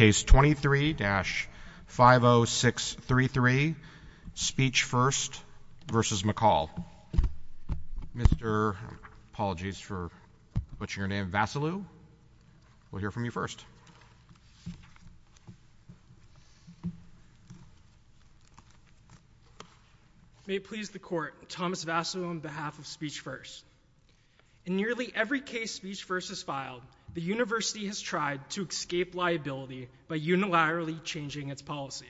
May it please the Court, Thomas Vassilou on behalf of Speech First. In nearly every case Speech First has filed, the university has tried to escape liability by unilaterally changing its policy.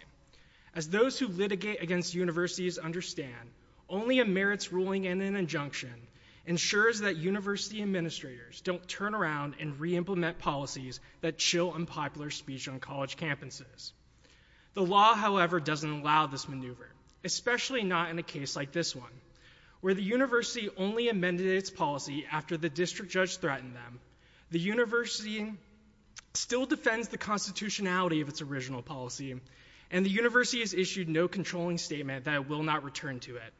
As those who litigate against universities understand, only a merits ruling and an injunction ensures that university administrators don't turn around and re-implement policies that chill unpopular speech on college campuses. The law, however, doesn't allow this maneuver, especially not in a case like this one, where the university only amended its policy after the district judge threatened them. The university still defends the constitutionality of its original policy, and the university has issued no controlling statement that it will not return to it.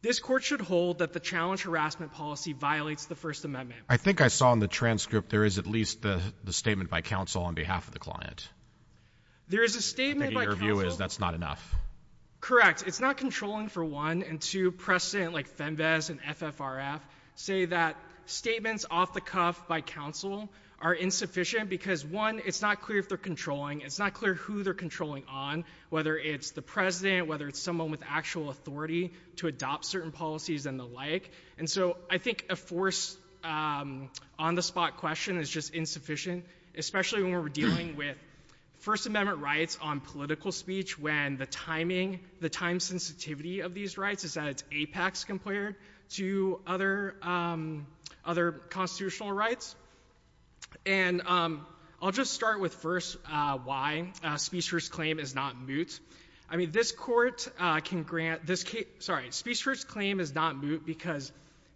This Court should hold that the challenge harassment policy violates the First Amendment. I think I saw in the transcript there is at least the statement by counsel on behalf of the client. There is a statement by counsel. I think your view is that's not enough. Correct. It's not controlling for one, and two, precedent like FEMVAS and FFRF say that statements off the cuff by counsel are insufficient because one, it's not clear if they're controlling. It's not clear who they're controlling on, whether it's the president, whether it's someone with actual authority to adopt certain policies and the like. I think a force on the spot question is just insufficient, especially when we're dealing with First Amendment rights on political speech when the timing, the time sensitivity of these rights is at its apex compared to other constitutional rights. I'll just start with first why Speechless Claim is not moot. Speechless Claim is not moot because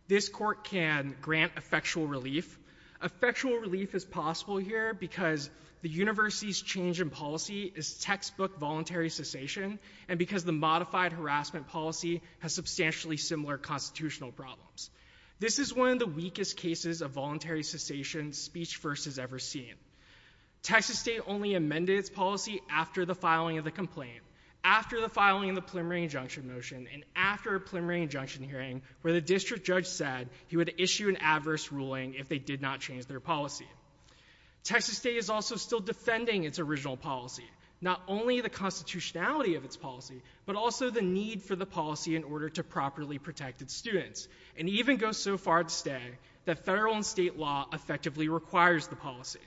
this Court can grant effectual relief. Effectual relief is possible here because the university's change in policy is textbook voluntary cessation and because the modified harassment policy has substantially similar constitutional problems. This is one of the weakest cases of voluntary cessation Speech First has ever seen. Texas State only amended its policy after the filing of the complaint, after the filing of the preliminary injunction motion, and after a preliminary injunction hearing where the district judge said he would issue an adverse ruling if they did not change their policy. Texas State is also still defending its original policy, not only the constitutionality of its policy, but also the need for the policy in order to properly protect its students and even go so far as to say that federal and state law effectively requires the policy.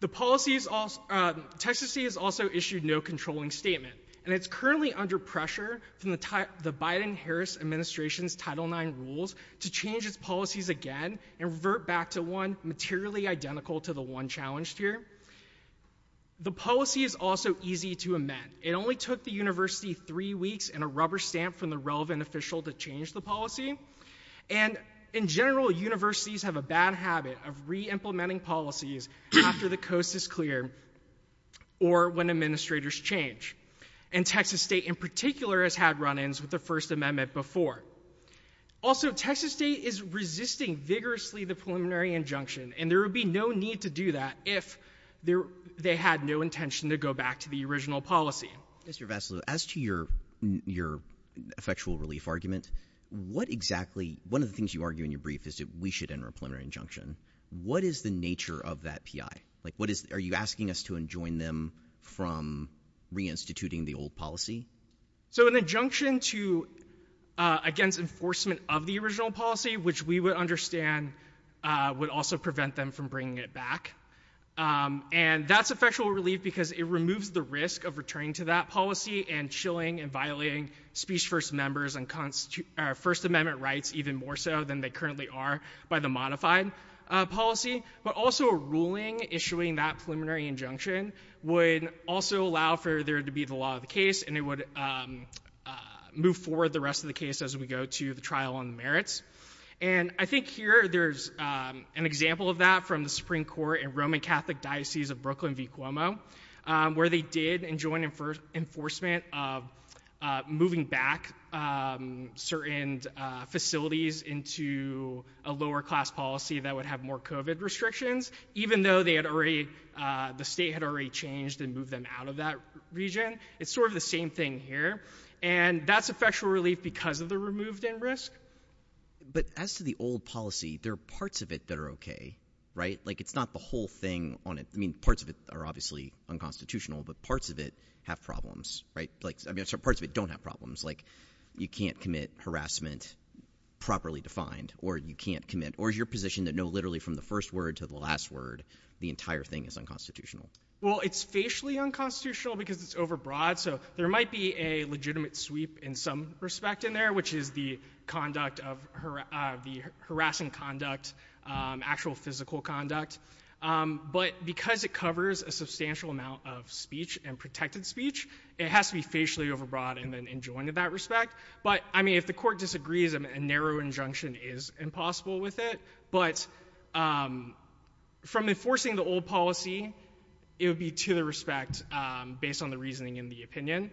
The policy is also, Texas State has also issued no controlling statement and it's currently under pressure from the Biden-Harris administration's Title IX rules to change its policies again and revert back to one materially identical to the one challenged here. The policy is also easy to amend. It only took the university three weeks and a rubber stamp from the relevant official to change the policy. And in general, universities have a bad habit of re-implementing policies after the coast is clear or when administrators change. And Texas State, in particular, has had run-ins with the First Amendment before. Also, Texas State is resisting vigorously the preliminary injunction and there would be no need to do that if they had no intention to go back to the original policy. Mr. Vassilou, as to your effectual relief argument, what exactly, one of the things you argue in your brief is that we should enter a preliminary injunction. What is the nature of that P.I.? Are you asking us to enjoin them from reinstituting the old policy? So an injunction against enforcement of the original policy, which we would understand would also prevent them from bringing it back. And that's effectual relief because it removes the risk of returning to that policy and chilling and violating speech first members and First Amendment rights even more so than they currently are by the modified policy. But also a ruling issuing that preliminary injunction would also allow for there to be the law of the case and it would move forward the rest of the case as we go to the trial on the merits. And I think here there's an example of that from the Supreme Court in Roman Catholic Diocese of Brooklyn v. Cuomo, where they did enjoin enforcement of moving back certain facilities into a lower class policy that would have more COVID restrictions, even though they had already, the state had already changed and moved them out of that region. It's sort of the same thing here. And that's effectual relief because of the removed end risk. But as to the old policy, there are parts of it that are okay, right? Like it's not the whole thing on it. I mean, parts of it are obviously unconstitutional, but parts of it have problems, right? Like, I mean, parts of it don't have problems. Like you can't commit harassment properly defined, or you can't commit, or is your position that no, literally from the first word to the last word, the entire thing is unconstitutional? Well, it's facially unconstitutional because it's overbroad. So there might be a legitimate sweep in some respect in there, which is the conduct of the harassing conduct, actual physical conduct. But because it covers a substantial amount of speech and protected speech, it has to be facially overbroad and then enjoined in that respect. But I mean, if the court disagrees, a narrow injunction is impossible with it. But from enforcing the old policy, it would be to the respect, based on the reasoning and the opinion.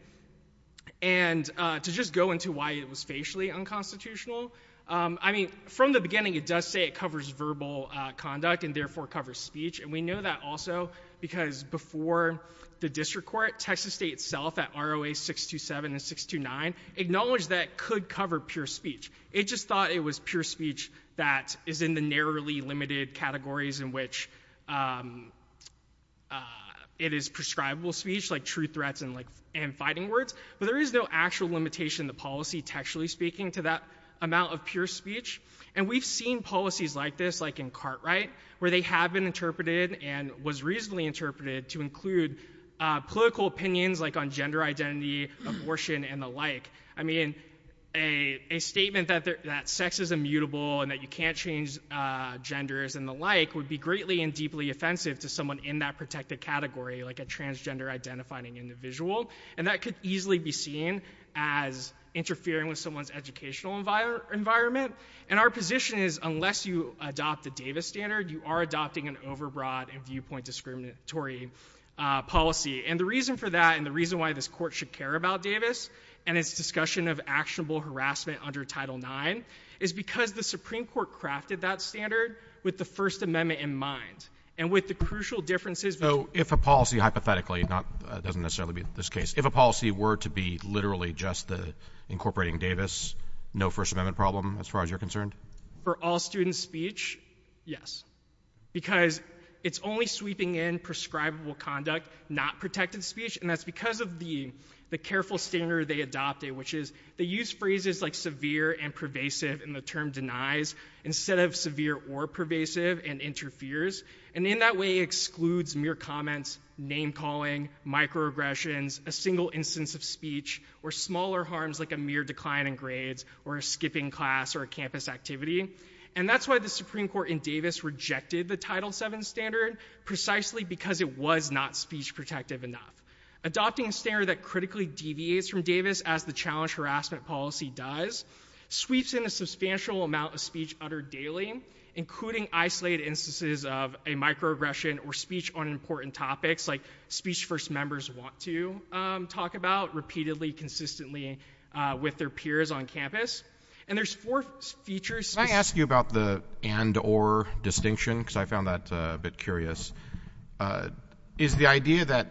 And to just go into why it was facially unconstitutional, I mean, from the beginning, it does say it covers verbal conduct and therefore covers speech, and we know that also because before the district court, Texas State itself at ROA 627 and 629 acknowledged that it could cover pure speech. It just thought it was pure speech that is in the narrowly limited categories in which it is prescribable speech, like true threats and fighting words. But there is no actual limitation in the policy, textually speaking, to that amount of pure speech. And we've seen policies like this, like in Cartwright, where they have been interpreted and was reasonably interpreted to include political opinions like on gender identity, abortion, and the like. I mean, a statement that sex is immutable and that you can't change genders and the like would be greatly and deeply offensive to someone in that protected category, like a transgender-identifying individual. And that could easily be seen as interfering with someone's educational environment. And our position is, unless you adopt the Davis standard, you are adopting an overbroad and viewpoint discriminatory policy. And the reason for that and the reason why this court should care about Davis and its discussion of actionable harassment under Title IX is because the Supreme Court crafted that standard with the First Amendment in mind. And with the crucial differences— So if a policy, hypothetically—it doesn't necessarily be this case—if a policy were to be literally just incorporating Davis, no First Amendment problem as far as you're concerned? For all students' speech, yes. Because it's only sweeping in prescribable conduct, not protected speech, and that's because of the careful standard they adopted, which is they use phrases like severe and pervasive and the term denies instead of severe or pervasive and interferes. And in that way, it excludes mere comments, name-calling, microaggressions, a single instance of speech, or smaller harms like a mere decline in grades or a skipping class or a campus activity. And that's why the Supreme Court in Davis rejected the Title VII standard, precisely because it was not speech-protective enough. Adopting a standard that critically deviates from Davis, as the challenge harassment policy does, sweeps in a substantial amount of speech uttered daily, including isolated instances of a microaggression or speech on important topics, like speech first members want to talk about repeatedly, consistently with their peers on campus. And there's four features. Can I ask you about the and-or distinction, because I found that a bit curious? Is the idea that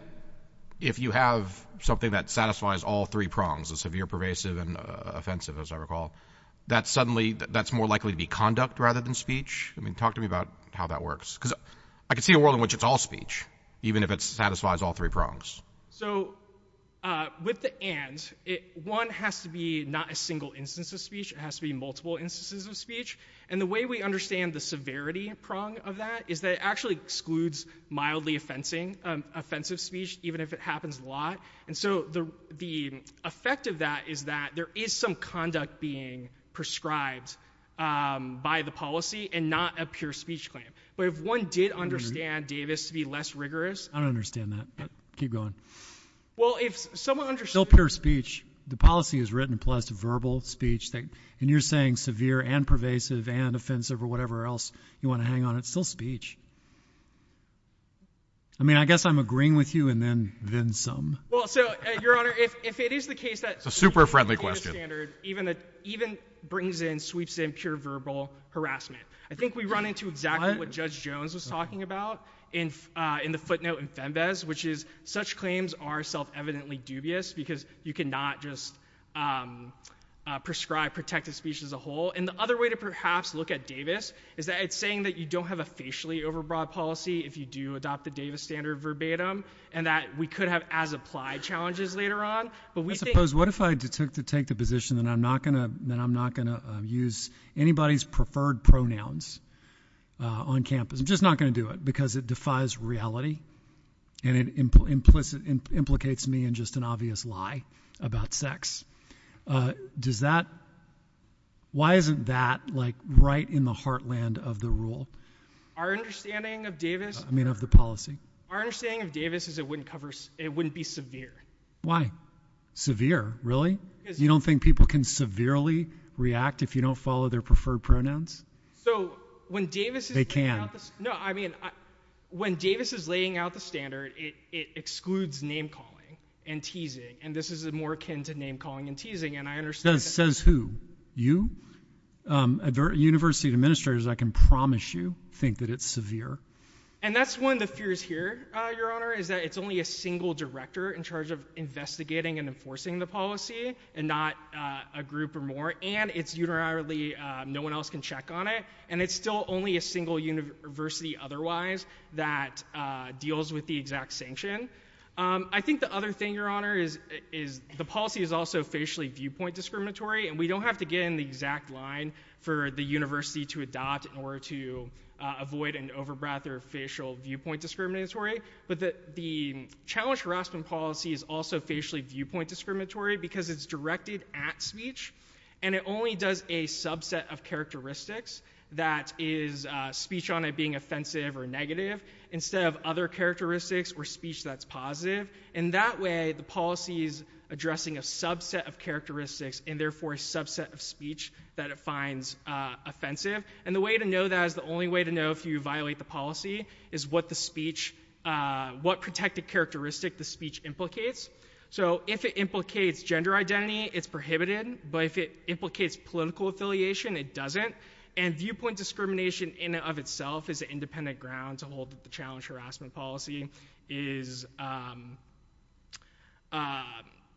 if you have something that satisfies all three prongs, the severe, pervasive, and offensive, as I recall, that suddenly that's more likely to be conduct rather than I mean, talk to me about how that works. Because I can see a world in which it's all speech, even if it satisfies all three prongs. So with the and, one has to be not a single instance of speech, it has to be multiple instances of speech. And the way we understand the severity prong of that is that it actually excludes mildly offensive speech, even if it happens a lot. And so the effect of that is that there is some conduct being prescribed by the policy and not a pure speech claim. But if one did understand Davis to be less rigorous I don't understand that. But keep going. Well, if someone under still pure speech, the policy is written plus a verbal speech that and you're saying severe and pervasive and offensive or whatever else you want to hang on, it's still speech. I mean, I guess I'm agreeing with you and then then some. Well, so, Your Honor, if it is the case that a super friendly question standard even that even brings in sweeps in pure verbal harassment, I think we run into exactly what Judge Jones was talking about in in the footnote in FEMBES, which is such claims are self-evidently dubious because you cannot just prescribe protective speech as a whole. And the other way to perhaps look at Davis is that it's saying that you don't have a facially overbroad policy if you do adopt the Davis standard verbatim and that we could have as applied challenges later on. But we suppose what if I took to take the position that I'm not going to then I'm not going to use anybody's preferred pronouns on campus? I'm just not going to do it because it defies reality and it implicitly implicates me in just an obvious lie about sex. Does that. Why isn't that like right in the heartland of the rule? Our understanding of Davis, I mean, of the policy, our understanding of Davis is it wouldn't cover it wouldn't be severe. Why severe? You don't think people can severely react if you don't follow their preferred pronouns? So when Davis, they can know, I mean, when Davis is laying out the standard, it excludes name calling and teasing. And this is a more akin to name calling and teasing. And I understand says who you at the University of administrators, I can promise you think that it's severe. And that's one of the fears here, Your Honor, is that it's only a single director in charge of investigating and enforcing the policy and not a group or more. And it's unilaterally, no one else can check on it. And it's still only a single university otherwise that deals with the exact sanction. I think the other thing, Your Honor, is, is the policy is also facially viewpoint discriminatory and we don't have to get in the exact line for the university to adopt in order to avoid an overbreath or facial viewpoint discriminatory. But the challenge harassment policy is also facially viewpoint discriminatory because it's directed at speech. And it only does a subset of characteristics that is speech on it being offensive or negative instead of other characteristics or speech that's positive. And that way, the policy is addressing a subset of characteristics and therefore a subset of speech that it finds offensive. And the way to know that is the only way to know if you violate the policy is what the speech what protected characteristic the speech implicates. So if it implicates gender identity, it's prohibited, but if it implicates political affiliation, it doesn't. And viewpoint discrimination in and of itself is an independent ground to hold the challenge harassment policy is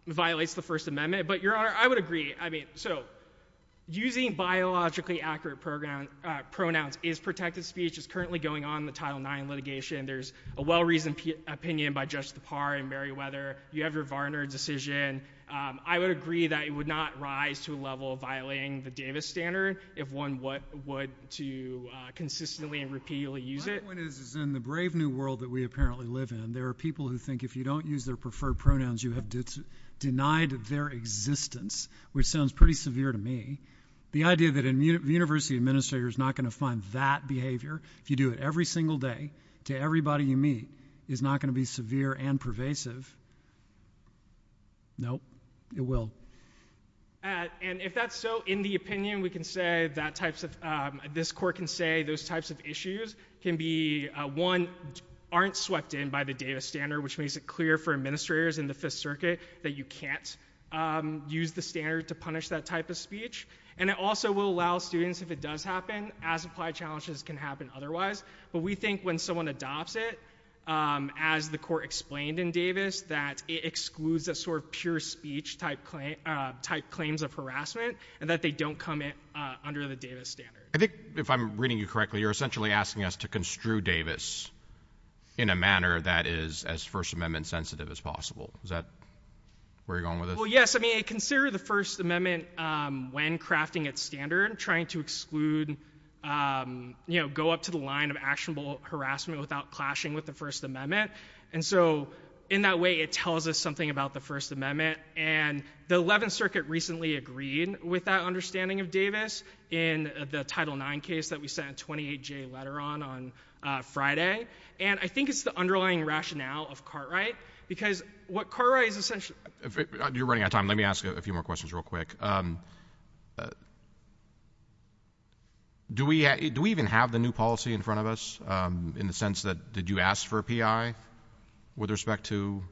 violates the First Amendment. But Your Honor, I would agree. I mean, so using biologically accurate program pronouns is protected speech is currently going on the title nine litigation. There's a well-reasoned opinion by just the par and Meriwether. You have your Varner decision. I would agree that it would not rise to a level of violating the Davis standard if one what would to consistently and repeatedly use it. One is in the brave new world that we apparently live in. There are people who think if you don't use their preferred pronouns, you have denied their existence, which sounds pretty severe to me. The idea that a university administrator is not going to find that behavior if you do it every single day to everybody you meet is not going to be severe and pervasive. Nope, it will. And if that's so, in the opinion, we can say that types of this court can say those types of issues can be one aren't swept in by the Davis standard, which makes it clear for administrators in the Fifth Circuit that you can't use the standard to punish that type of speech. And it also will allow students, if it does happen, as applied challenges can happen otherwise. But we think when someone adopts it, as the court explained in Davis, that it excludes a sort of pure speech type claims of harassment and that they don't come in under the Davis standard. I think if I'm reading you correctly, you're essentially asking us to construe Davis in a manner that is as First Amendment sensitive as possible. Is that where you're going with this? Well, yes. I mean, consider the First Amendment, when crafting its standard, trying to exclude, you know, go up to the line of actionable harassment without clashing with the First Amendment. And so, in that way, it tells us something about the First Amendment. And the Eleventh Circuit recently agreed with that understanding of Davis in the Title IX case that we sent a 28-J letter on on Friday. And I think it's the underlying rationale of Cartwright, because what Cartwright is essentially— You're running out of time. Let me ask a few more questions real quick. Do we even have the new policy in front of us? In the sense that, did you ask for a P.I. with respect to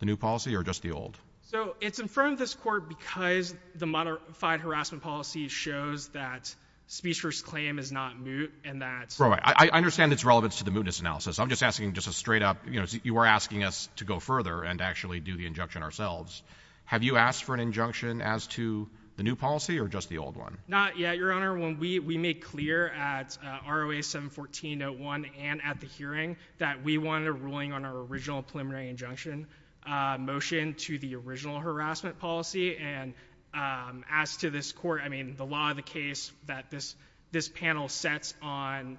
the new policy or just the old? So, it's in front of this Court because the modified harassment policy shows that speech first claim is not moot and that— Right. I understand its relevance to the mootness analysis. I'm just asking just a straight up—you know, you are asking us to go further and actually do the injunction ourselves. Have you asked for an injunction as to the new policy or just the old one? Not yet, Your Honor. When we made clear at ROA 714.1 and at the hearing that we wanted a ruling on our original preliminary injunction motion to the original harassment policy, and as to this Court—I mean, the law of the case that this panel sets on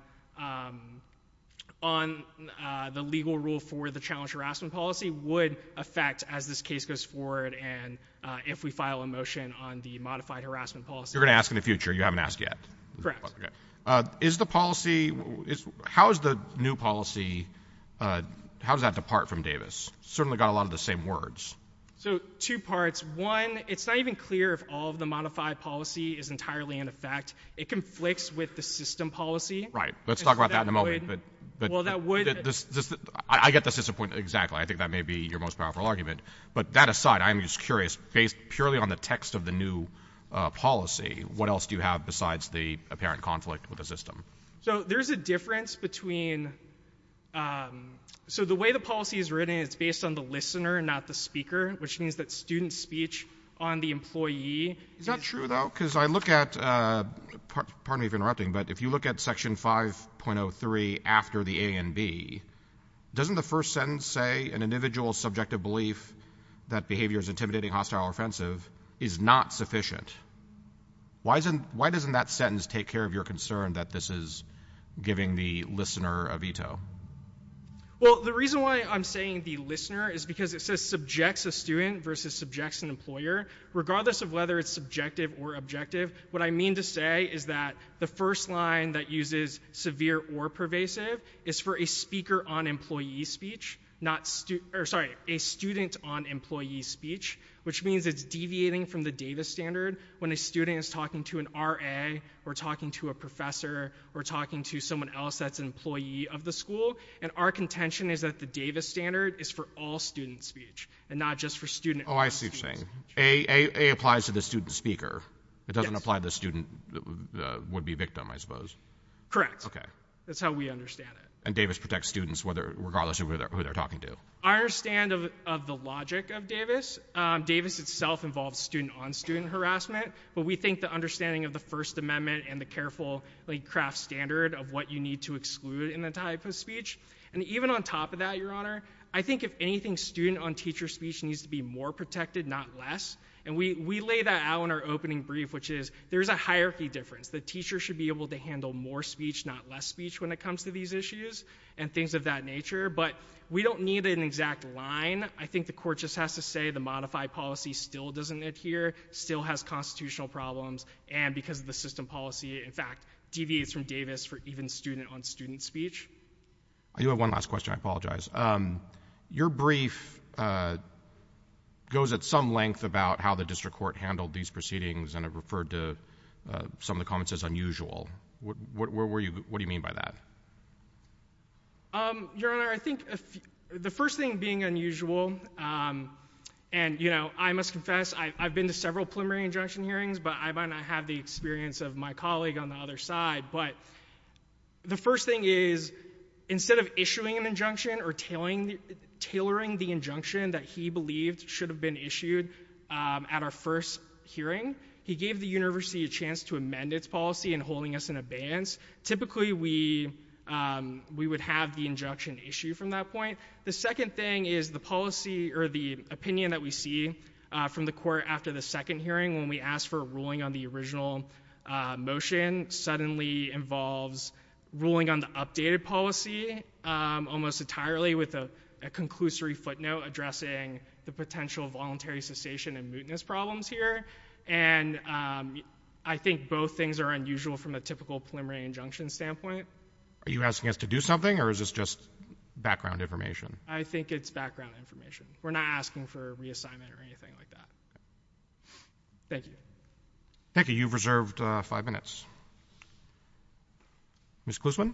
the legal rule for the challenged harassment policy would affect as this case goes forward and if we file a motion on the modified harassment policy. You're going to ask in the future. You haven't asked yet. Is the policy—how is the new policy—how does that depart from Davis? It's certainly got a lot of the same words. So, two parts. One, it's not even clear if all of the modified policy is entirely in effect. It conflicts with the system policy. Right. Let's talk about that in a moment. Well, that would— I get the system point exactly. I think that may be your most powerful argument. But that aside, I'm just curious, based purely on the text of the new policy, what else do you have besides the apparent conflict with the system? So there's a difference between—so the way the policy is written, it's based on the listener and not the speaker, which means that student speech on the employee— Is that true, though? Because I look at—pardon me for interrupting, but if you look at Section 5.03 after the A and B, doesn't the first sentence say an individual's subjective belief that behavior is intimidating, hostile, or offensive is not sufficient? Why doesn't that sentence take care of your concern that this is giving the listener a Well, the reason why I'm saying the listener is because it says subjects a student versus subjects an employer. Regardless of whether it's subjective or objective, what I mean to say is that the first line that uses severe or pervasive is for a speaker on employee speech, not—or sorry, a student on employee speech, which means it's deviating from the Davis standard when a student is talking to an RA or talking to a professor or talking to someone else that's an employee of the school. And our contention is that the Davis standard is for all student speech and not just for student speech. Oh, I see what you're saying. A applies to the student speaker. Yes. And apply to the student would-be victim, I suppose. Correct. Okay. That's how we understand it. And Davis protects students whether—regardless of who they're talking to. I understand of the logic of Davis. Davis itself involves student-on-student harassment, but we think the understanding of the First Amendment and the careful craft standard of what you need to exclude in the type of speech. And even on top of that, Your Honor, I think if anything, student-on-teacher speech needs to be more protected, not less. And we lay that out in our opening brief, which is there's a hierarchy difference. The teacher should be able to handle more speech, not less speech when it comes to these issues and things of that nature. But we don't need an exact line. I think the court just has to say the modified policy still doesn't adhere, still has constitutional problems, and because of the system policy, in fact, deviates from Davis for even student-on-student speech. I do have one last question, I apologize. Your brief goes at some length about how the district court handled these proceedings and it referred to some of the comments as unusual. What do you mean by that? Your Honor, I think the first thing being unusual, and I must confess, I've been to several preliminary injunction hearings, but I might not have the experience of my colleague on the other side, but the first thing is, instead of issuing an injunction or tailoring the injunction that he believed should have been issued at our first hearing, he gave the university a chance to amend its policy and holding us in abeyance. Typically we would have the injunction issued from that point. The second thing is the policy or the opinion that we see from the court after the second motion suddenly involves ruling on the updated policy almost entirely with a conclusory footnote addressing the potential voluntary cessation and mootness problems here, and I think both things are unusual from a typical preliminary injunction standpoint. Are you asking us to do something or is this just background information? I think it's background information. We're not asking for reassignment or anything like that. Thank you. Thank you. You've reserved five minutes. Ms. Klusman?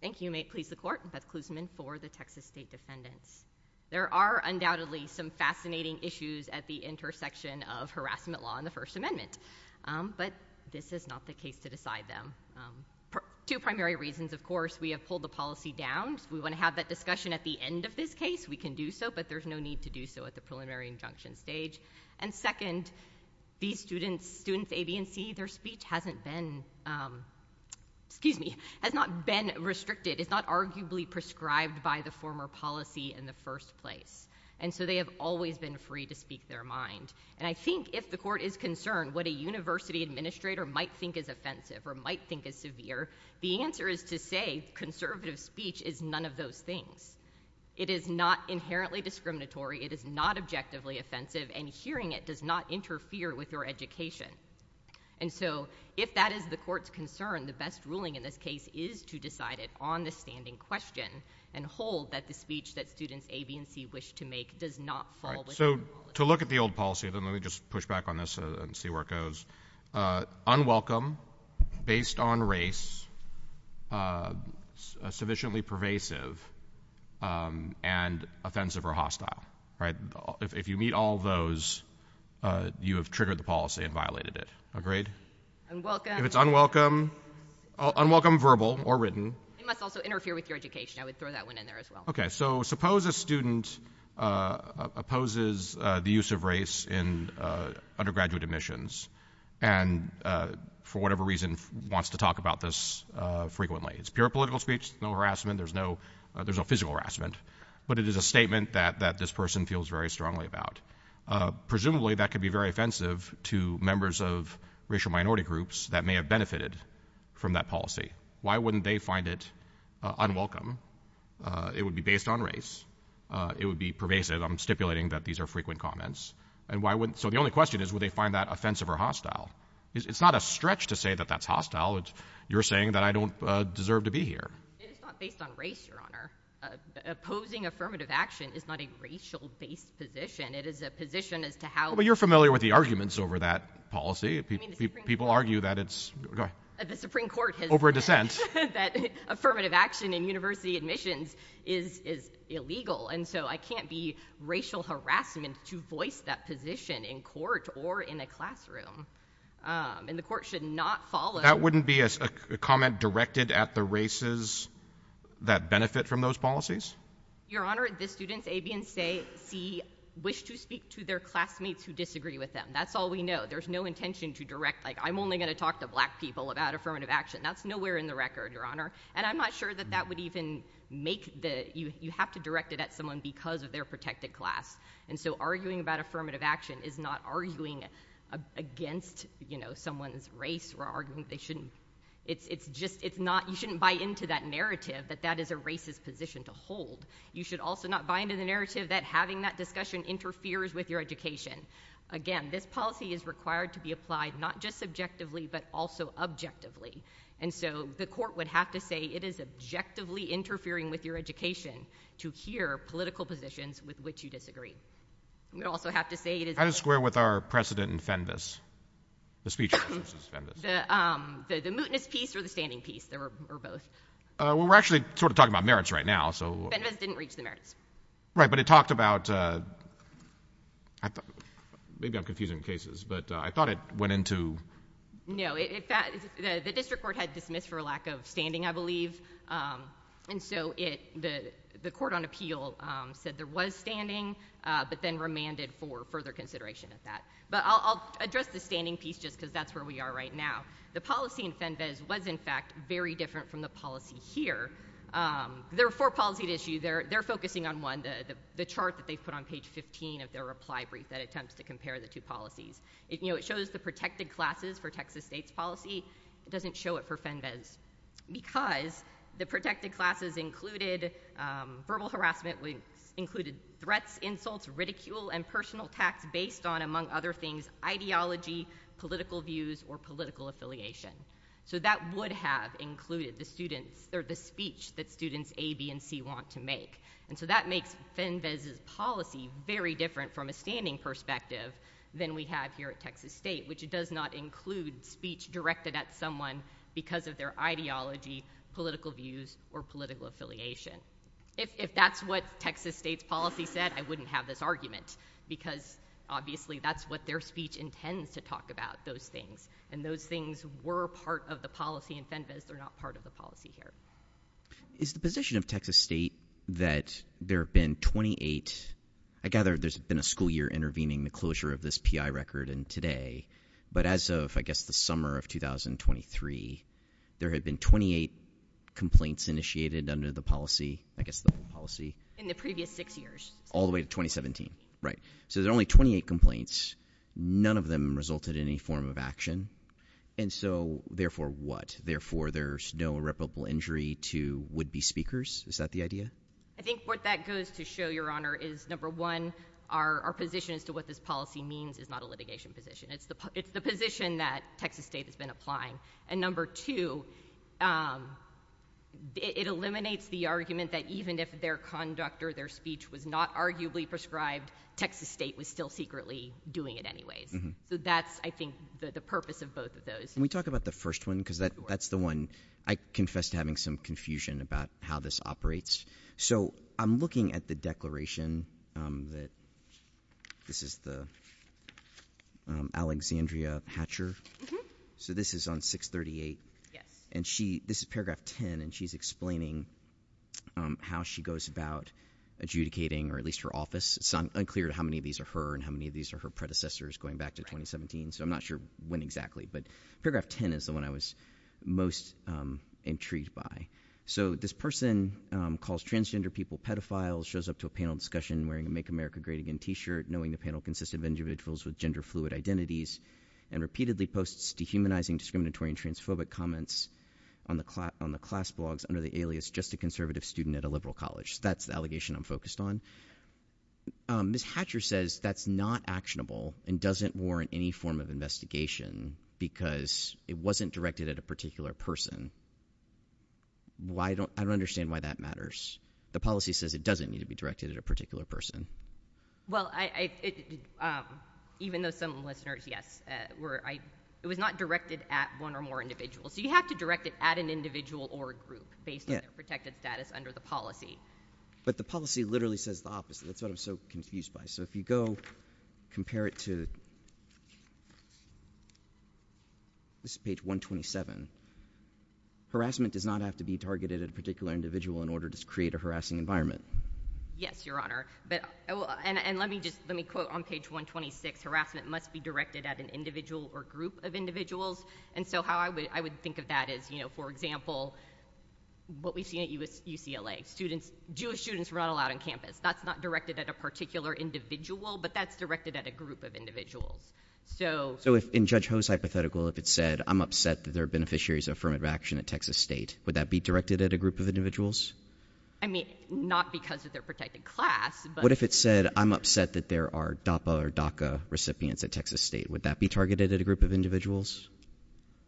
Thank you. May it please the Court. Beth Klusman for the Texas State Defendants. There are undoubtedly some fascinating issues at the intersection of harassment law and First Amendment, but this is not the case to decide them. Two primary reasons, of course. We have pulled the policy down. If we want to have that discussion at the end of this case, we can do so, but there's no need to do so at the preliminary injunction stage. And second, these students, students A, B, and C, their speech hasn't been, excuse me, has not been restricted. It's not arguably prescribed by the former policy in the first place. And so they have always been free to speak their mind. And I think if the Court is concerned what a university administrator might think is offensive or might think is severe, the answer is to say conservative speech is none of those things. It is not inherently discriminatory. It is not objectively offensive, and hearing it does not interfere with your education. And so if that is the Court's concern, the best ruling in this case is to decide it on the standing question and hold that the speech that students A, B, and C wish to make does not fall within the rule. So to look at the old policy, then let me just push back on this and see where it goes. Unwelcome, based on race, sufficiently pervasive, and offensive or hostile, right? If you meet all those, you have triggered the policy and violated it, agreed? Unwelcome. If it's unwelcome, unwelcome verbal or written. It must also interfere with your education. I would throw that one in there as well. Okay, so suppose a student opposes the use of race in undergraduate admissions and for whatever reason wants to talk about this frequently. It's pure political speech, no harassment, there's no physical harassment, but it is a statement that this person feels very strongly about. Presumably that could be very offensive to members of racial minority groups that may have benefited from that policy. Why wouldn't they find it unwelcome? It would be based on race. It would be pervasive. I'm stipulating that these are frequent comments. And why wouldn't, so the only question is, would they find that offensive or hostile? It's not a stretch to say that that's hostile. You're saying that I don't deserve to be here. It's not based on race, Your Honor. Opposing affirmative action is not a racial-based position. It is a position as to how- But you're familiar with the arguments over that policy. People argue that it's- Go ahead. The Supreme Court has- Over a dissent. That affirmative action in university admissions is illegal. And so I can't be racial harassment to voice that position in court or in a classroom. And the court should not follow- That wouldn't be a comment directed at the races that benefit from those policies? Your Honor, the students, A, B, and C, wish to speak to their classmates who disagree with them. That's all we know. There's no intention to direct, like, I'm only going to talk to black people about affirmative action. That's nowhere in the record, Your Honor. And I'm not sure that that would even make the- You have to direct it at someone because of their protected class. And so arguing about affirmative action is not arguing against, you know, someone's race or arguing they shouldn't- It's just- It's not- You shouldn't buy into that narrative that that is a racist position to hold. You should also not buy into the narrative that having that discussion interferes with your education. Again, this policy is required to be applied not just subjectively, but also objectively. And so the court would have to say it is objectively interfering with your education to hear political positions with which you disagree. We also have to say it is- How does it square with our precedent in FENVAS? The speech- The mootness piece or the standing piece, or both? Well, we're actually sort of talking about merits right now, so- FENVAS didn't reach the merits. Right. But it talked about- Maybe I'm confusing cases, but I thought it went into- No. The district court had dismissed for a lack of standing, I believe. And so the court on appeal said there was standing, but then remanded for further consideration of that. But I'll address the standing piece just because that's where we are right now. The policy in FENVAS was, in fact, very different from the policy here. There are four policies at issue. They're focusing on one, the chart that they put on page 15 of their reply brief that attempts to compare the two policies. It shows the protected classes for Texas State's policy. It doesn't show it for FENVAS because the protected classes included verbal harassment, included threats, insults, ridicule, and personal attacks based on, among other things, ideology, political views, or political affiliation. So that would have included the students or the speech that students A, B, and C want to make. And so that makes FENVAS' policy very different from a standing perspective than we have here at Texas State, which it does not include speech directed at someone because of their ideology, political views, or political affiliation. If that's what Texas State's policy said, I wouldn't have this argument because, obviously, that's what their speech intends to talk about, those things. And those things were part of the policy in FENVAS. They're not part of the policy here. Is the position of Texas State that there have been 28, I gather there's been a school year intervening the closure of this PI record and today, but as of, I guess, the summer of 2023, there had been 28 complaints initiated under the policy, I guess the whole policy? In the previous six years. All the way to 2017, right. So there are only 28 complaints. None of them resulted in any form of action. And so therefore what? Therefore there's no irreparable injury to would-be speakers? Is that the idea? I think what that goes to show, Your Honor, is number one, our position as to what this policy means is not a litigation position. It's the position that Texas State has been applying. And number two, it eliminates the argument that even if their conduct or their speech was not arguably prescribed, Texas State was still secretly doing it anyways. So that's, I think, the purpose of both of those. Can we talk about the first one? Because that's the one, I confess to having some confusion about how this operates. So I'm looking at the declaration that, this is the Alexandria Hatcher. So this is on 638. And this is paragraph 10, and she's explaining how she goes about adjudicating, or at least her office. It's unclear how many of these are her and how many of these are her predecessors going back to 2017. So I'm not sure when exactly, but paragraph 10 is the one I was most intrigued by. So this person calls transgender people pedophiles, shows up to a panel discussion wearing a Make America Great Again t-shirt, knowing the panel consisted of individuals with gender-fluid comments on the class blogs under the alias, just a conservative student at a liberal college. That's the allegation I'm focused on. Ms. Hatcher says that's not actionable and doesn't warrant any form of investigation because it wasn't directed at a particular person. Why don't, I don't understand why that matters. The policy says it doesn't need to be directed at a particular person. Well, I, even though some listeners, yes, were, it was not directed at one or more individuals. So you have to direct it at an individual or a group based on their protected status under the policy. But the policy literally says the opposite. That's what I'm so confused by. So if you go compare it to, this is page 127. Harassment does not have to be targeted at a particular individual in order to create a harassing environment. Yes, Your Honor. But, and let me just, let me quote on page 126, harassment must be directed at an individual or group of individuals. And so how I would think of that is, you know, for example, what we've seen at UCLA, students, Jewish students were not allowed on campus. That's not directed at a particular individual, but that's directed at a group of individuals. So if, in Judge Ho's hypothetical, if it said, I'm upset that there are beneficiaries of affirmative action at Texas State, would that be directed at a group of individuals? I mean, not because of their protected class, but. What if it said, I'm upset that there are DAPA or DACA recipients at Texas State, would that be targeted at a group of individuals?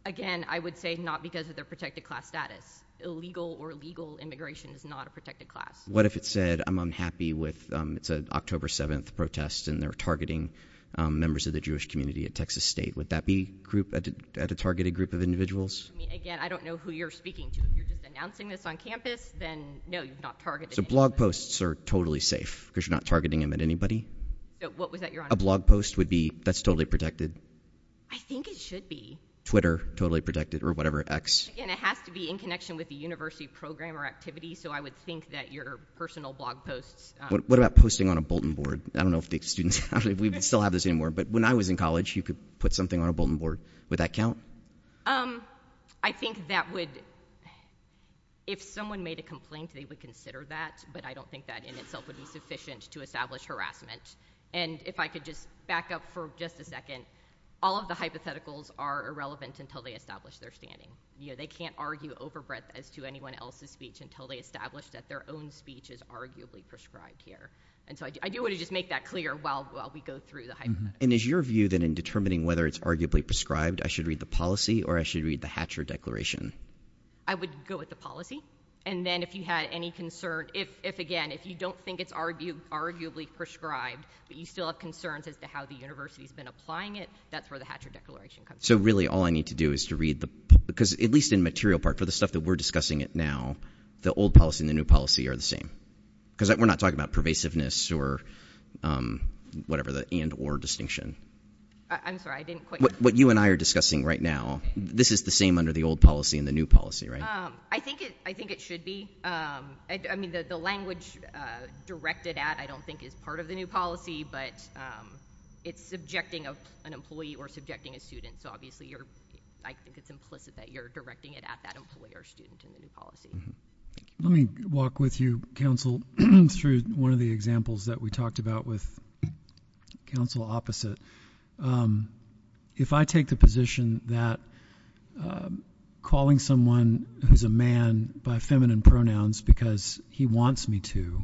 Again, I would say not because of their protected class status. Illegal or legal immigration is not a protected class. What if it said, I'm unhappy with, it's an October 7th protest and they're targeting members of the Jewish community at Texas State, would that be group, at a targeted group of I mean, again, I don't know who you're speaking to. If you're just announcing this on campus, then no, you've not targeted anybody. So blog posts are totally safe, because you're not targeting them at anybody? What was that you're on about? A blog post would be, that's totally protected? I think it should be. Twitter, totally protected, or whatever, X. Again, it has to be in connection with the university program or activity, so I would think that your personal blog posts. What about posting on a Bolton board? I don't know if the students, we still have this anymore, but when I was in college, you could put something on a Bolton board, would that count? I think that would, if someone made a complaint, they would consider that, but I don't think that in itself would be sufficient to establish harassment. And if I could just back up for just a second, all of the hypotheticals are irrelevant until they establish their standing. They can't argue overbreadth as to anyone else's speech until they establish that their own speech is arguably prescribed here. And so I do want to just make that clear while we go through the hypotheticals. And is your view that in determining whether it's arguably prescribed, I should read the policy or I should read the Hatcher Declaration? I would go with the policy, and then if you had any concern, if again, if you don't think it's arguably prescribed, but you still have concerns as to how the university's been applying it, that's where the Hatcher Declaration comes in. So really, all I need to do is to read the, because at least in material part, for the stuff that we're discussing it now, the old policy and the new policy are the same? Because we're not talking about pervasiveness or whatever, the and or distinction. I'm sorry, I didn't quite- What you and I are discussing right now, this is the same under the old policy and the new policy, right? I think it should be. I mean, the language directed at, I don't think is part of the new policy, but it's subjecting an employee or subjecting a student. So obviously, I think it's implicit that you're directing it at that employee or student in the new policy. Let me walk with you, counsel, through one of the examples that we talked about with counsel opposite. If I take the position that calling someone who's a man by feminine pronouns because he wants me to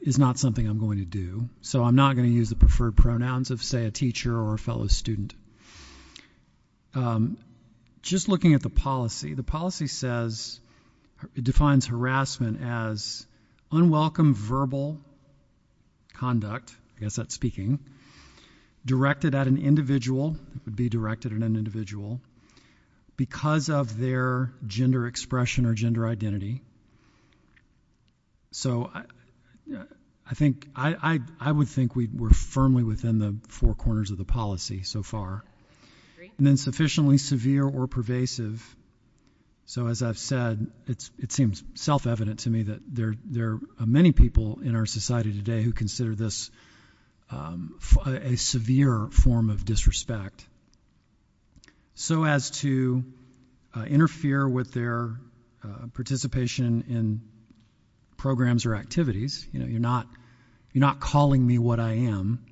is not something I'm going to do, so I'm not going to use the preferred pronouns of, say, a teacher or a fellow student. Just looking at the policy, the policy says, it defines harassment as unwelcome verbal conduct, I guess that's speaking, directed at an individual, it would be directed at an individual because of their gender expression or gender identity. So, I think, I would think we're firmly within the four corners of the policy so far. And then sufficiently severe or pervasive. So as I've said, it seems self-evident to me that there are many people in our society today who consider this a severe form of disrespect. So as to interfere with their participation in programs or activities, you know, you're not calling me what I am,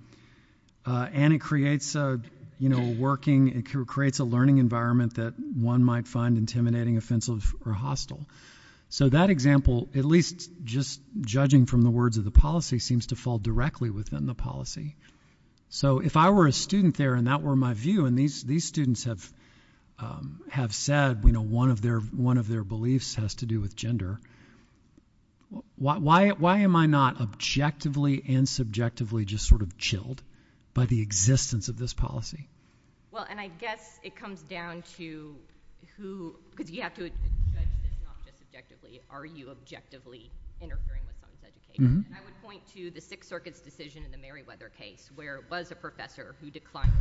and it creates a, you know, working, it creates a learning environment that one might find intimidating, offensive, or hostile. So that example, at least just judging from the words of the policy, seems to fall directly within the policy. So if I were a student there, and that were my view, and these students have said, you know, one of their beliefs has to do with gender, why am I not objectively and subjectively just sort of chilled by the existence of this policy? Well, and I guess it comes down to who, because you have to judge this not just objectively, are you objectively interfering with someone's education? I would point to the Sixth Circuit's decision in the Merriweather case, where it was a professor who declined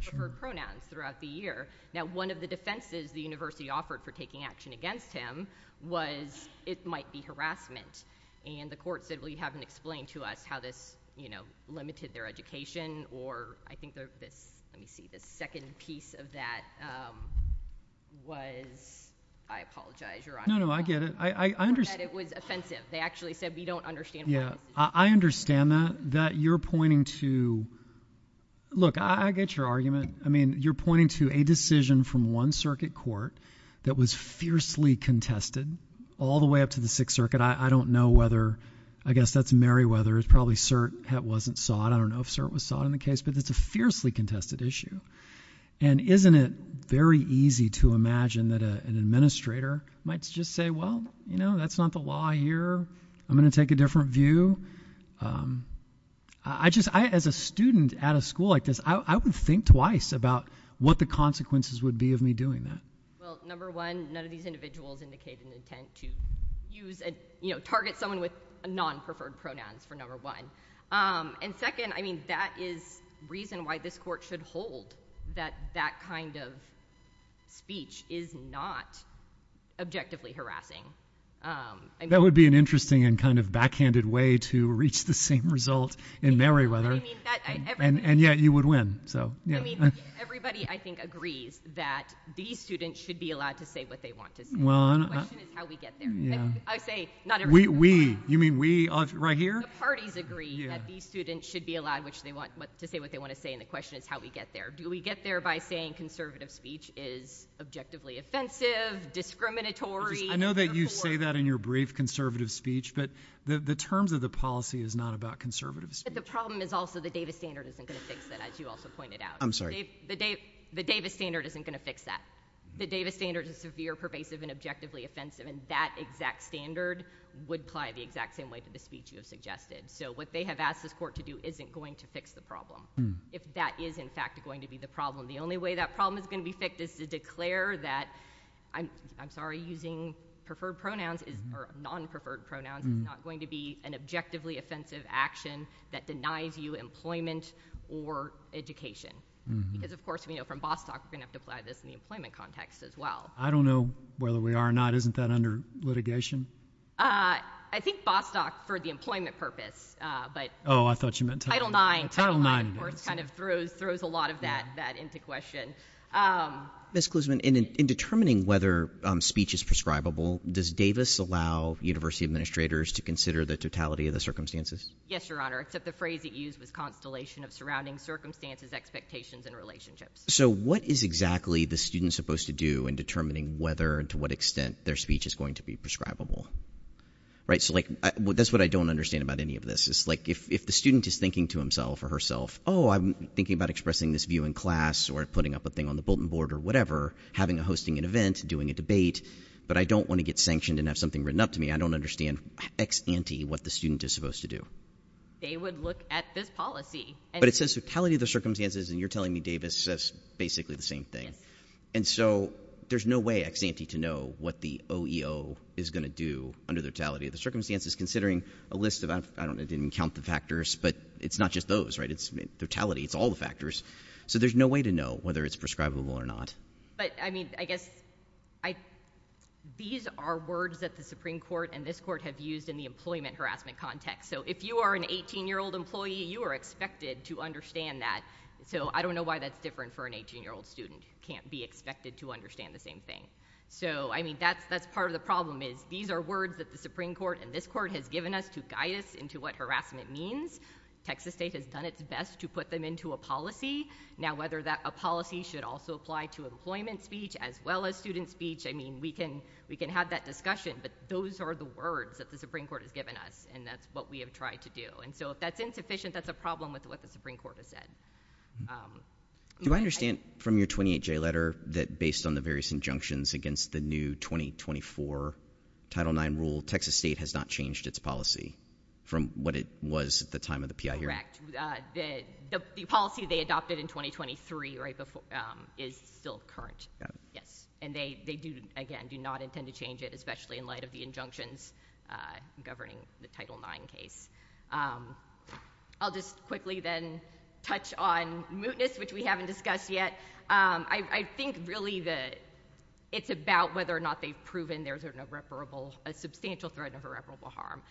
for her pronouns throughout the year. Now one of the defenses the university offered for taking action against him was it might be harassment. And the court said, well, you haven't explained to us how this, you know, limited their education, or I think this, let me see, this second piece of that was, I apologize, you're on mute. No, no, I get it. I understand. That it was offensive. They actually said, we don't understand why this is offensive. Yeah, I understand that, that you're pointing to, look, I get your argument, I mean, you're pointing to a decision from one circuit court that was fiercely contested all the way up to the Sixth Circuit. I don't know whether, I guess that's Merriweather, it's probably CERT that wasn't sought, I don't know if CERT was sought in the case, but it's a fiercely contested issue. And isn't it very easy to imagine that an administrator might just say, well, you know, that's not the law here, I'm going to take a different view. I just, as a student at a school like this, I would think twice about what the consequences would be of me doing that. Well, number one, none of these individuals indicated an intent to use, you know, target someone with non-preferred pronouns, for number one. And second, I mean, that is reason why this court should hold that that kind of speech is not objectively harassing. That would be an interesting and kind of backhanded way to reach the same result in Merriweather. And yet, you would win, so. I mean, everybody, I think, agrees that these students should be allowed to say what they want to say. The question is how we get there. I say, not everybody. We. You mean we right here? The parties agree that these students should be allowed to say what they want to say, and the question is how we get there. Do we get there by saying conservative speech is objectively offensive, discriminatory? I know that you say that in your brief conservative speech, but the terms of the policy is not about conservative speech. But the problem is also the Davis standard isn't going to fix that, as you also pointed out. I'm sorry. The Davis standard isn't going to fix that. The Davis standard is severe, pervasive, and objectively offensive, and that exact standard would apply the exact same way to the speech you have suggested. So what they have asked this court to do isn't going to fix the problem. If that is, in fact, going to be the problem. The only way that problem is going to be fixed is to declare that, I'm sorry, using preferred pronouns or non-preferred pronouns, it's not going to be an objectively offensive action that denies you employment or education, because, of course, we know from Bostock, we're going to have to apply this in the employment context as well. I don't know whether we are or not. Isn't that under litigation? I think Bostock, for the employment purpose, but. Oh, I thought you meant title IX. Title IX. That, of course, kind of throws a lot of that into question. Ms. Klusman, in determining whether speech is prescribable, does Davis allow university administrators to consider the totality of the circumstances? Yes, Your Honor, except the phrase it used was constellation of surrounding circumstances, expectations, and relationships. So what is exactly the student supposed to do in determining whether and to what extent their speech is going to be prescribable? Right? So, like, that's what I don't understand about any of this, is, like, if the student is thinking to himself or herself, oh, I'm thinking about expressing this view in class or putting up a thing on the bulletin board or whatever, having a hosting an event, doing a debate, but I don't want to get sanctioned and have something written up to me. I don't understand ex-ante what the student is supposed to do. They would look at this policy. But it says totality of the circumstances, and you're telling me, Davis, that's basically the same thing. Yes. And so there's no way ex-ante to know what the OEO is going to do under the totality of the circumstances, considering a list of, I don't know, I didn't count the factors, but it's not just those. It's totality. It's all the factors. So there's no way to know whether it's prescribable or not. But, I mean, I guess, these are words that the Supreme Court and this court have used in the employment harassment context. So if you are an 18-year-old employee, you are expected to understand that. So I don't know why that's different for an 18-year-old student who can't be expected to understand the same thing. So, I mean, that's part of the problem, is these are words that the Supreme Court and this court has given us to guide us into what harassment means. Texas State has done its best to put them into a policy. Now whether that policy should also apply to employment speech as well as student speech, I mean, we can have that discussion, but those are the words that the Supreme Court has given us. And that's what we have tried to do. And so if that's insufficient, that's a problem with what the Supreme Court has said. Do I understand from your 28-J letter that based on the various injunctions against the new 2024 Title IX rule, Texas State has not changed its policy from what it was at the time of the P.I. hearing? Correct. The policy they adopted in 2023 is still current, yes. And they, again, do not intend to change it, especially in light of the injunctions governing the Title IX case. I'll just quickly then touch on mootness, which we haven't discussed yet. I think really that it's about whether or not they've proven there's an irreparable, a substantial threat of irreparable harm.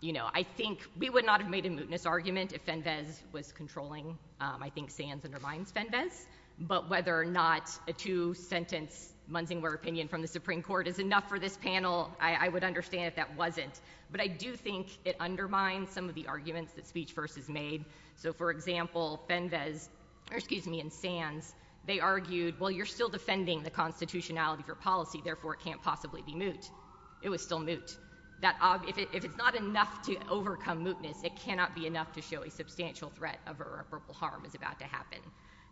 You know, I think we would not have made a mootness argument if Fenves was controlling. I think Sands undermines Fenves. But whether or not a two-sentence Munsingware opinion from the Supreme Court is enough for this panel, I would understand if that wasn't. But I do think it undermines some of the arguments that Speech First has made. So, for example, Fenves, or excuse me, and Sands, they argued, well, you're still defending the constitutionality of your policy, therefore it can't possibly be moot. It was still moot. If it's not enough to overcome mootness, it cannot be enough to show a substantial threat of irreparable harm is about to happen.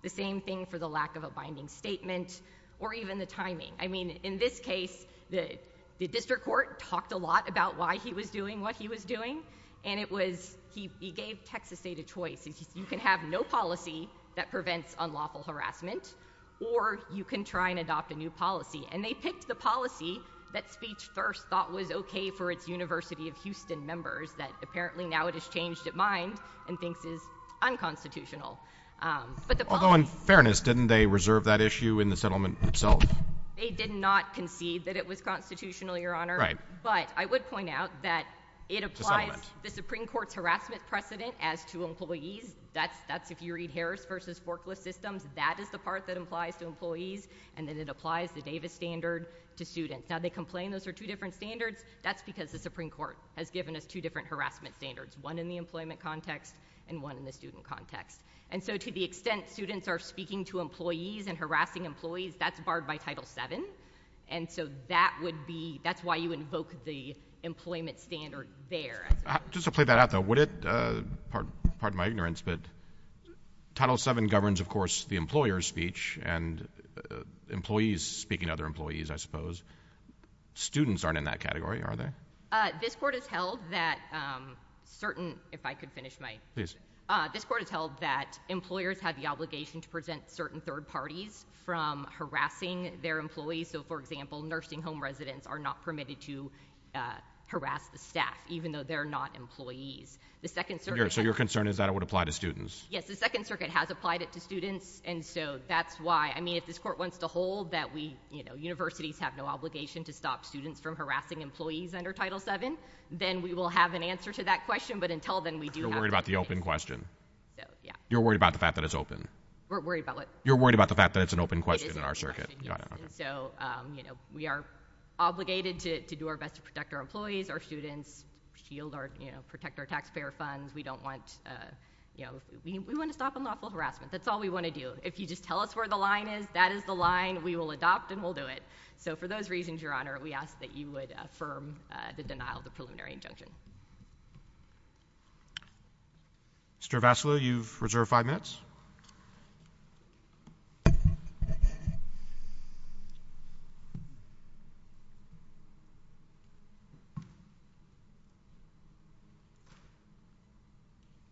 The same thing for the lack of a binding statement or even the timing. I mean, in this case, the district court talked a lot about why he was doing what he was doing, and it was, he gave Texas State a choice. You can have no policy that prevents unlawful harassment, or you can try and adopt a new policy. And they picked the policy that Speech First thought was okay for its University of Houston members that apparently now it has changed its mind and thinks is unconstitutional. But the policy— Although, in fairness, didn't they reserve that issue in the settlement itself? They did not concede that it was constitutional, Your Honor. Right. But I would point out that it applies the Supreme Court's harassment precedent as to employees. That's, if you read Harris v. Forklift Systems, that is the part that applies to employees, and then it applies the Davis standard to students. Now, they complain those are two different standards. That's because the Supreme Court has given us two different harassment standards, one in the employment context and one in the student context. And so to the extent students are speaking to employees and harassing employees, that's barred by Title VII. And so that would be—that's why you invoke the employment standard there. Just to play that out, though, would it—pardon my ignorance, but Title VII governs, of course, the employer's speech, and employees speaking to other employees, I suppose. Students aren't in that category, are they? This Court has held that certain—if I could finish my— Please. This Court has held that employers have the obligation to prevent certain third parties from harassing their employees. So, for example, nursing home residents are not permitted to harass the staff, even though they're not employees. The Second Circuit— So your concern is that it would apply to students? Yes. The Second Circuit has applied it to students, and so that's why—I mean, if this Court wants to hold that we, you know, universities have no obligation to stop students from harassing employees under Title VII, then we will have an answer to that question. But until then, we do have— You're worried about the open question. So, yeah. You're worried about the fact that it's open. We're worried about what? You're worried about the fact that it's an open question in our circuit. It is an open question, yes. And so, you know, we are obligated to do our best to protect our employees, our students, shield our—you know, protect our taxpayer funds. We don't want—you know, we want to stop unlawful harassment. That's all we want to do. If you just tell us where the line is, that is the line we will adopt and we'll do it. So for those reasons, Your Honor, we ask that you would affirm the denial of the preliminary injunction. Mr. Vassilou, you've reserved five minutes.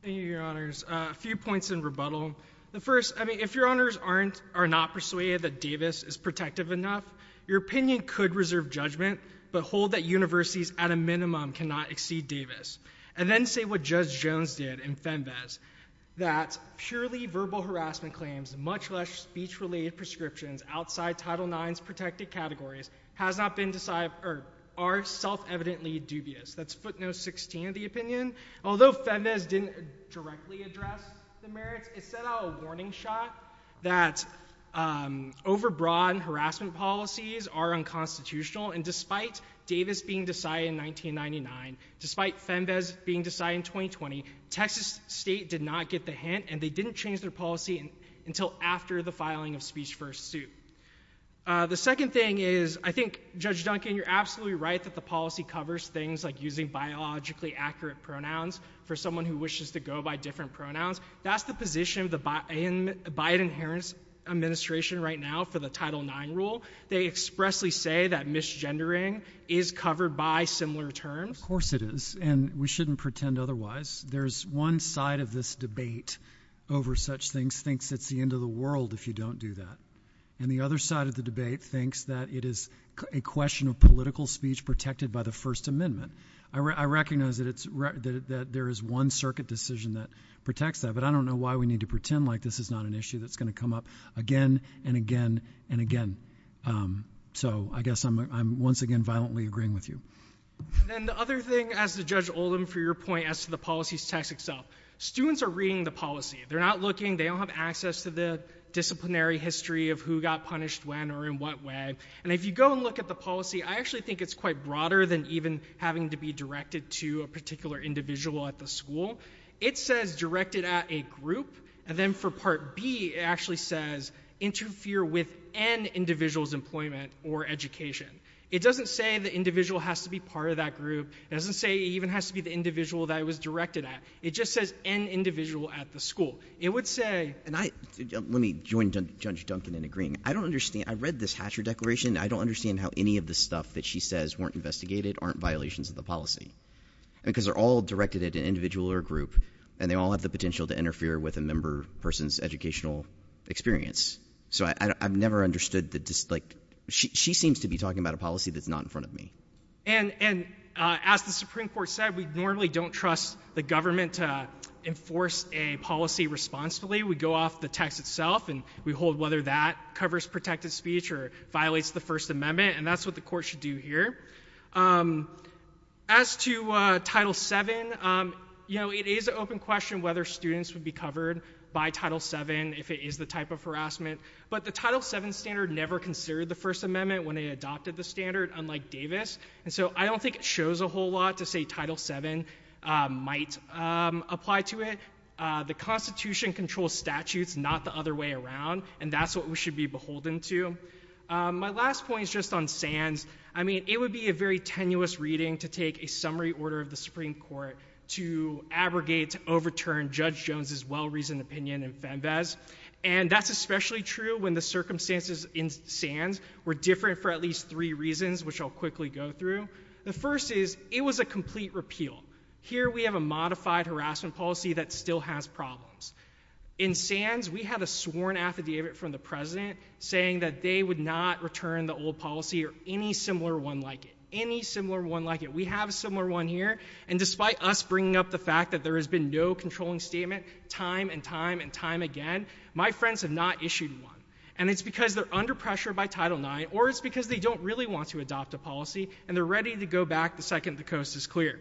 Thank you, Your Honors. A few points in rebuttal. The first, I mean, if Your Honors aren't—are not persuaded that Davis is protective enough, your opinion could reserve judgment but hold that universities at a minimum cannot exceed Davis. And then say what Judge Jones did in FEMVAS, that purely verbal harassment claims, much less speech-related prescriptions outside Title IX's protected categories, has not been—or are self-evidently dubious. That's footnote 16 of the opinion. Although FEMVAS didn't directly address the merits, it set out a warning shot that over-broadened harassment policies are unconstitutional, and despite Davis being decided in 1999, despite FEMVAS being decided in 2020, Texas State did not get the hint, and they didn't change their policy until after the filing of speech-first suit. The second thing is, I think, Judge Duncan, you're absolutely right that the policy covers things like using biologically accurate pronouns for someone who wishes to go by different pronouns. That's the position of the Biden-Harris administration right now for the Title IX rule. They expressly say that misgendering is covered by similar terms. Of course it is, and we shouldn't pretend otherwise. There's one side of this debate over such things thinks it's the end of the world if you don't do that, and the other side of the debate thinks that it is a question of political speech protected by the First Amendment. I recognize that there is one circuit decision that protects that, but I don't know why we need to pretend like this is not an issue that's going to come up again and again and So, I guess I'm once again violently agreeing with you. And then the other thing, as to Judge Oldham, for your point as to the policy text itself, students are reading the policy. They're not looking. They don't have access to the disciplinary history of who got punished when or in what way, and if you go and look at the policy, I actually think it's quite broader than even having to be directed to a particular individual at the school. It says directed at a group, and then for Part B, it actually says interfere with an individual's employment or education. It doesn't say the individual has to be part of that group. It doesn't say it even has to be the individual that it was directed at. It just says an individual at the school. It would say And I, let me join Judge Duncan in agreeing. I don't understand. I read this Hatcher Declaration. I don't understand how any of the stuff that she says weren't investigated aren't violations of the policy, because they're all directed at an individual or group, and they all have the potential to interfere with a member person's educational experience. So I've never understood the dislike. She seems to be talking about a policy that's not in front of me. And as the Supreme Court said, we normally don't trust the government to enforce a policy responsibly. We go off the text itself, and we hold whether that covers protected speech or violates the First Amendment, and that's what the court should do here. As to Title VII, you know, it is an open question whether students would be covered by Title VII if it is the type of harassment. But the Title VII standard never considered the First Amendment when it adopted the standard, unlike Davis. And so I don't think it shows a whole lot to say Title VII might apply to it. The Constitution controls statutes, not the other way around, and that's what we should be beholden to. My last point is just on SANS. I mean, it would be a very tenuous reading to take a summary order of the Supreme Court to abrogate, to overturn Judge Jones's well-reasoned opinion in FEMBAS. And that's especially true when the circumstances in SANS were different for at least three reasons, which I'll quickly go through. The first is, it was a complete repeal. Here we have a modified harassment policy that still has problems. In SANS, we had a sworn affidavit from the president saying that they would not return the old policy or any similar one like it, any similar one like it. We have a similar one here, and despite us bringing up the fact that there has been no controlling statement time and time and time again, my friends have not issued one. And it's because they're under pressure by Title IX, or it's because they don't really want to adopt a policy, and they're ready to go back the second the coast is clear.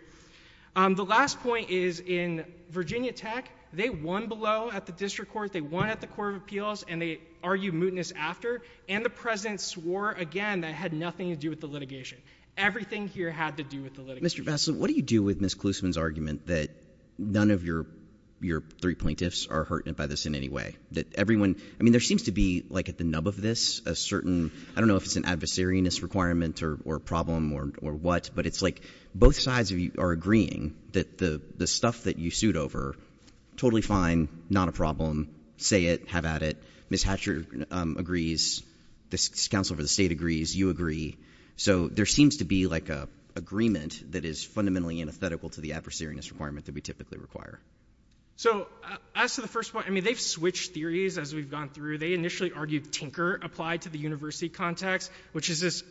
The last point is in Virginia Tech, they won below at the District Court, they won at the Court of Appeals, and they argued mootness after. And the president swore again that it had nothing to do with the litigation. Everything here had to do with the litigation. Mr. Vassil, what do you do with Ms. Klusman's argument that none of your three plaintiffs are hurt by this in any way? That everyone, I mean, there seems to be like at the nub of this a certain, I don't know if it's an adversariness requirement or problem or what, but it's like both sides are agreeing that the stuff that you sued over, totally fine, not a problem, say it, have at it. Ms. Hatcher agrees, this counsel for the state agrees, you agree. So there seems to be like a agreement that is fundamentally antithetical to the adversariness requirement that we typically require. So as to the first point, I mean, they've switched theories as we've gone through. They initially argued tinker applied to the university context, which is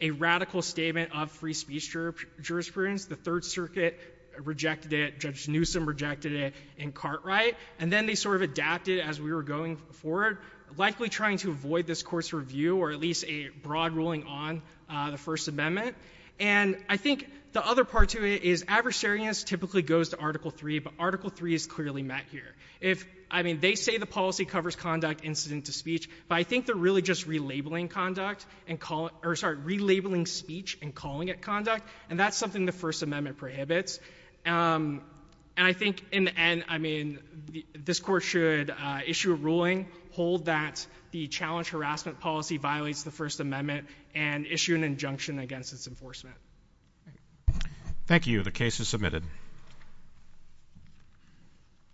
a radical statement of free speech jurisprudence. The Third Circuit rejected it, Judge Newsom rejected it in Cartwright, and then they sort of adapted as we were going forward, likely trying to avoid this court's review or at least a broad ruling on the First Amendment. And I think the other part to it is adversariness typically goes to Article 3, but Article 3 is clearly met here. If, I mean, they say the policy covers conduct incident to speech, but I think they're really just relabeling conduct and call it, or sorry, relabeling speech and calling it conduct. And that's something the First Amendment prohibits. And I think in the end, I mean, this court should issue a ruling, hold that the challenge harassment policy violates the First Amendment and issue an injunction against its enforcement. Thank you. The case is submitted.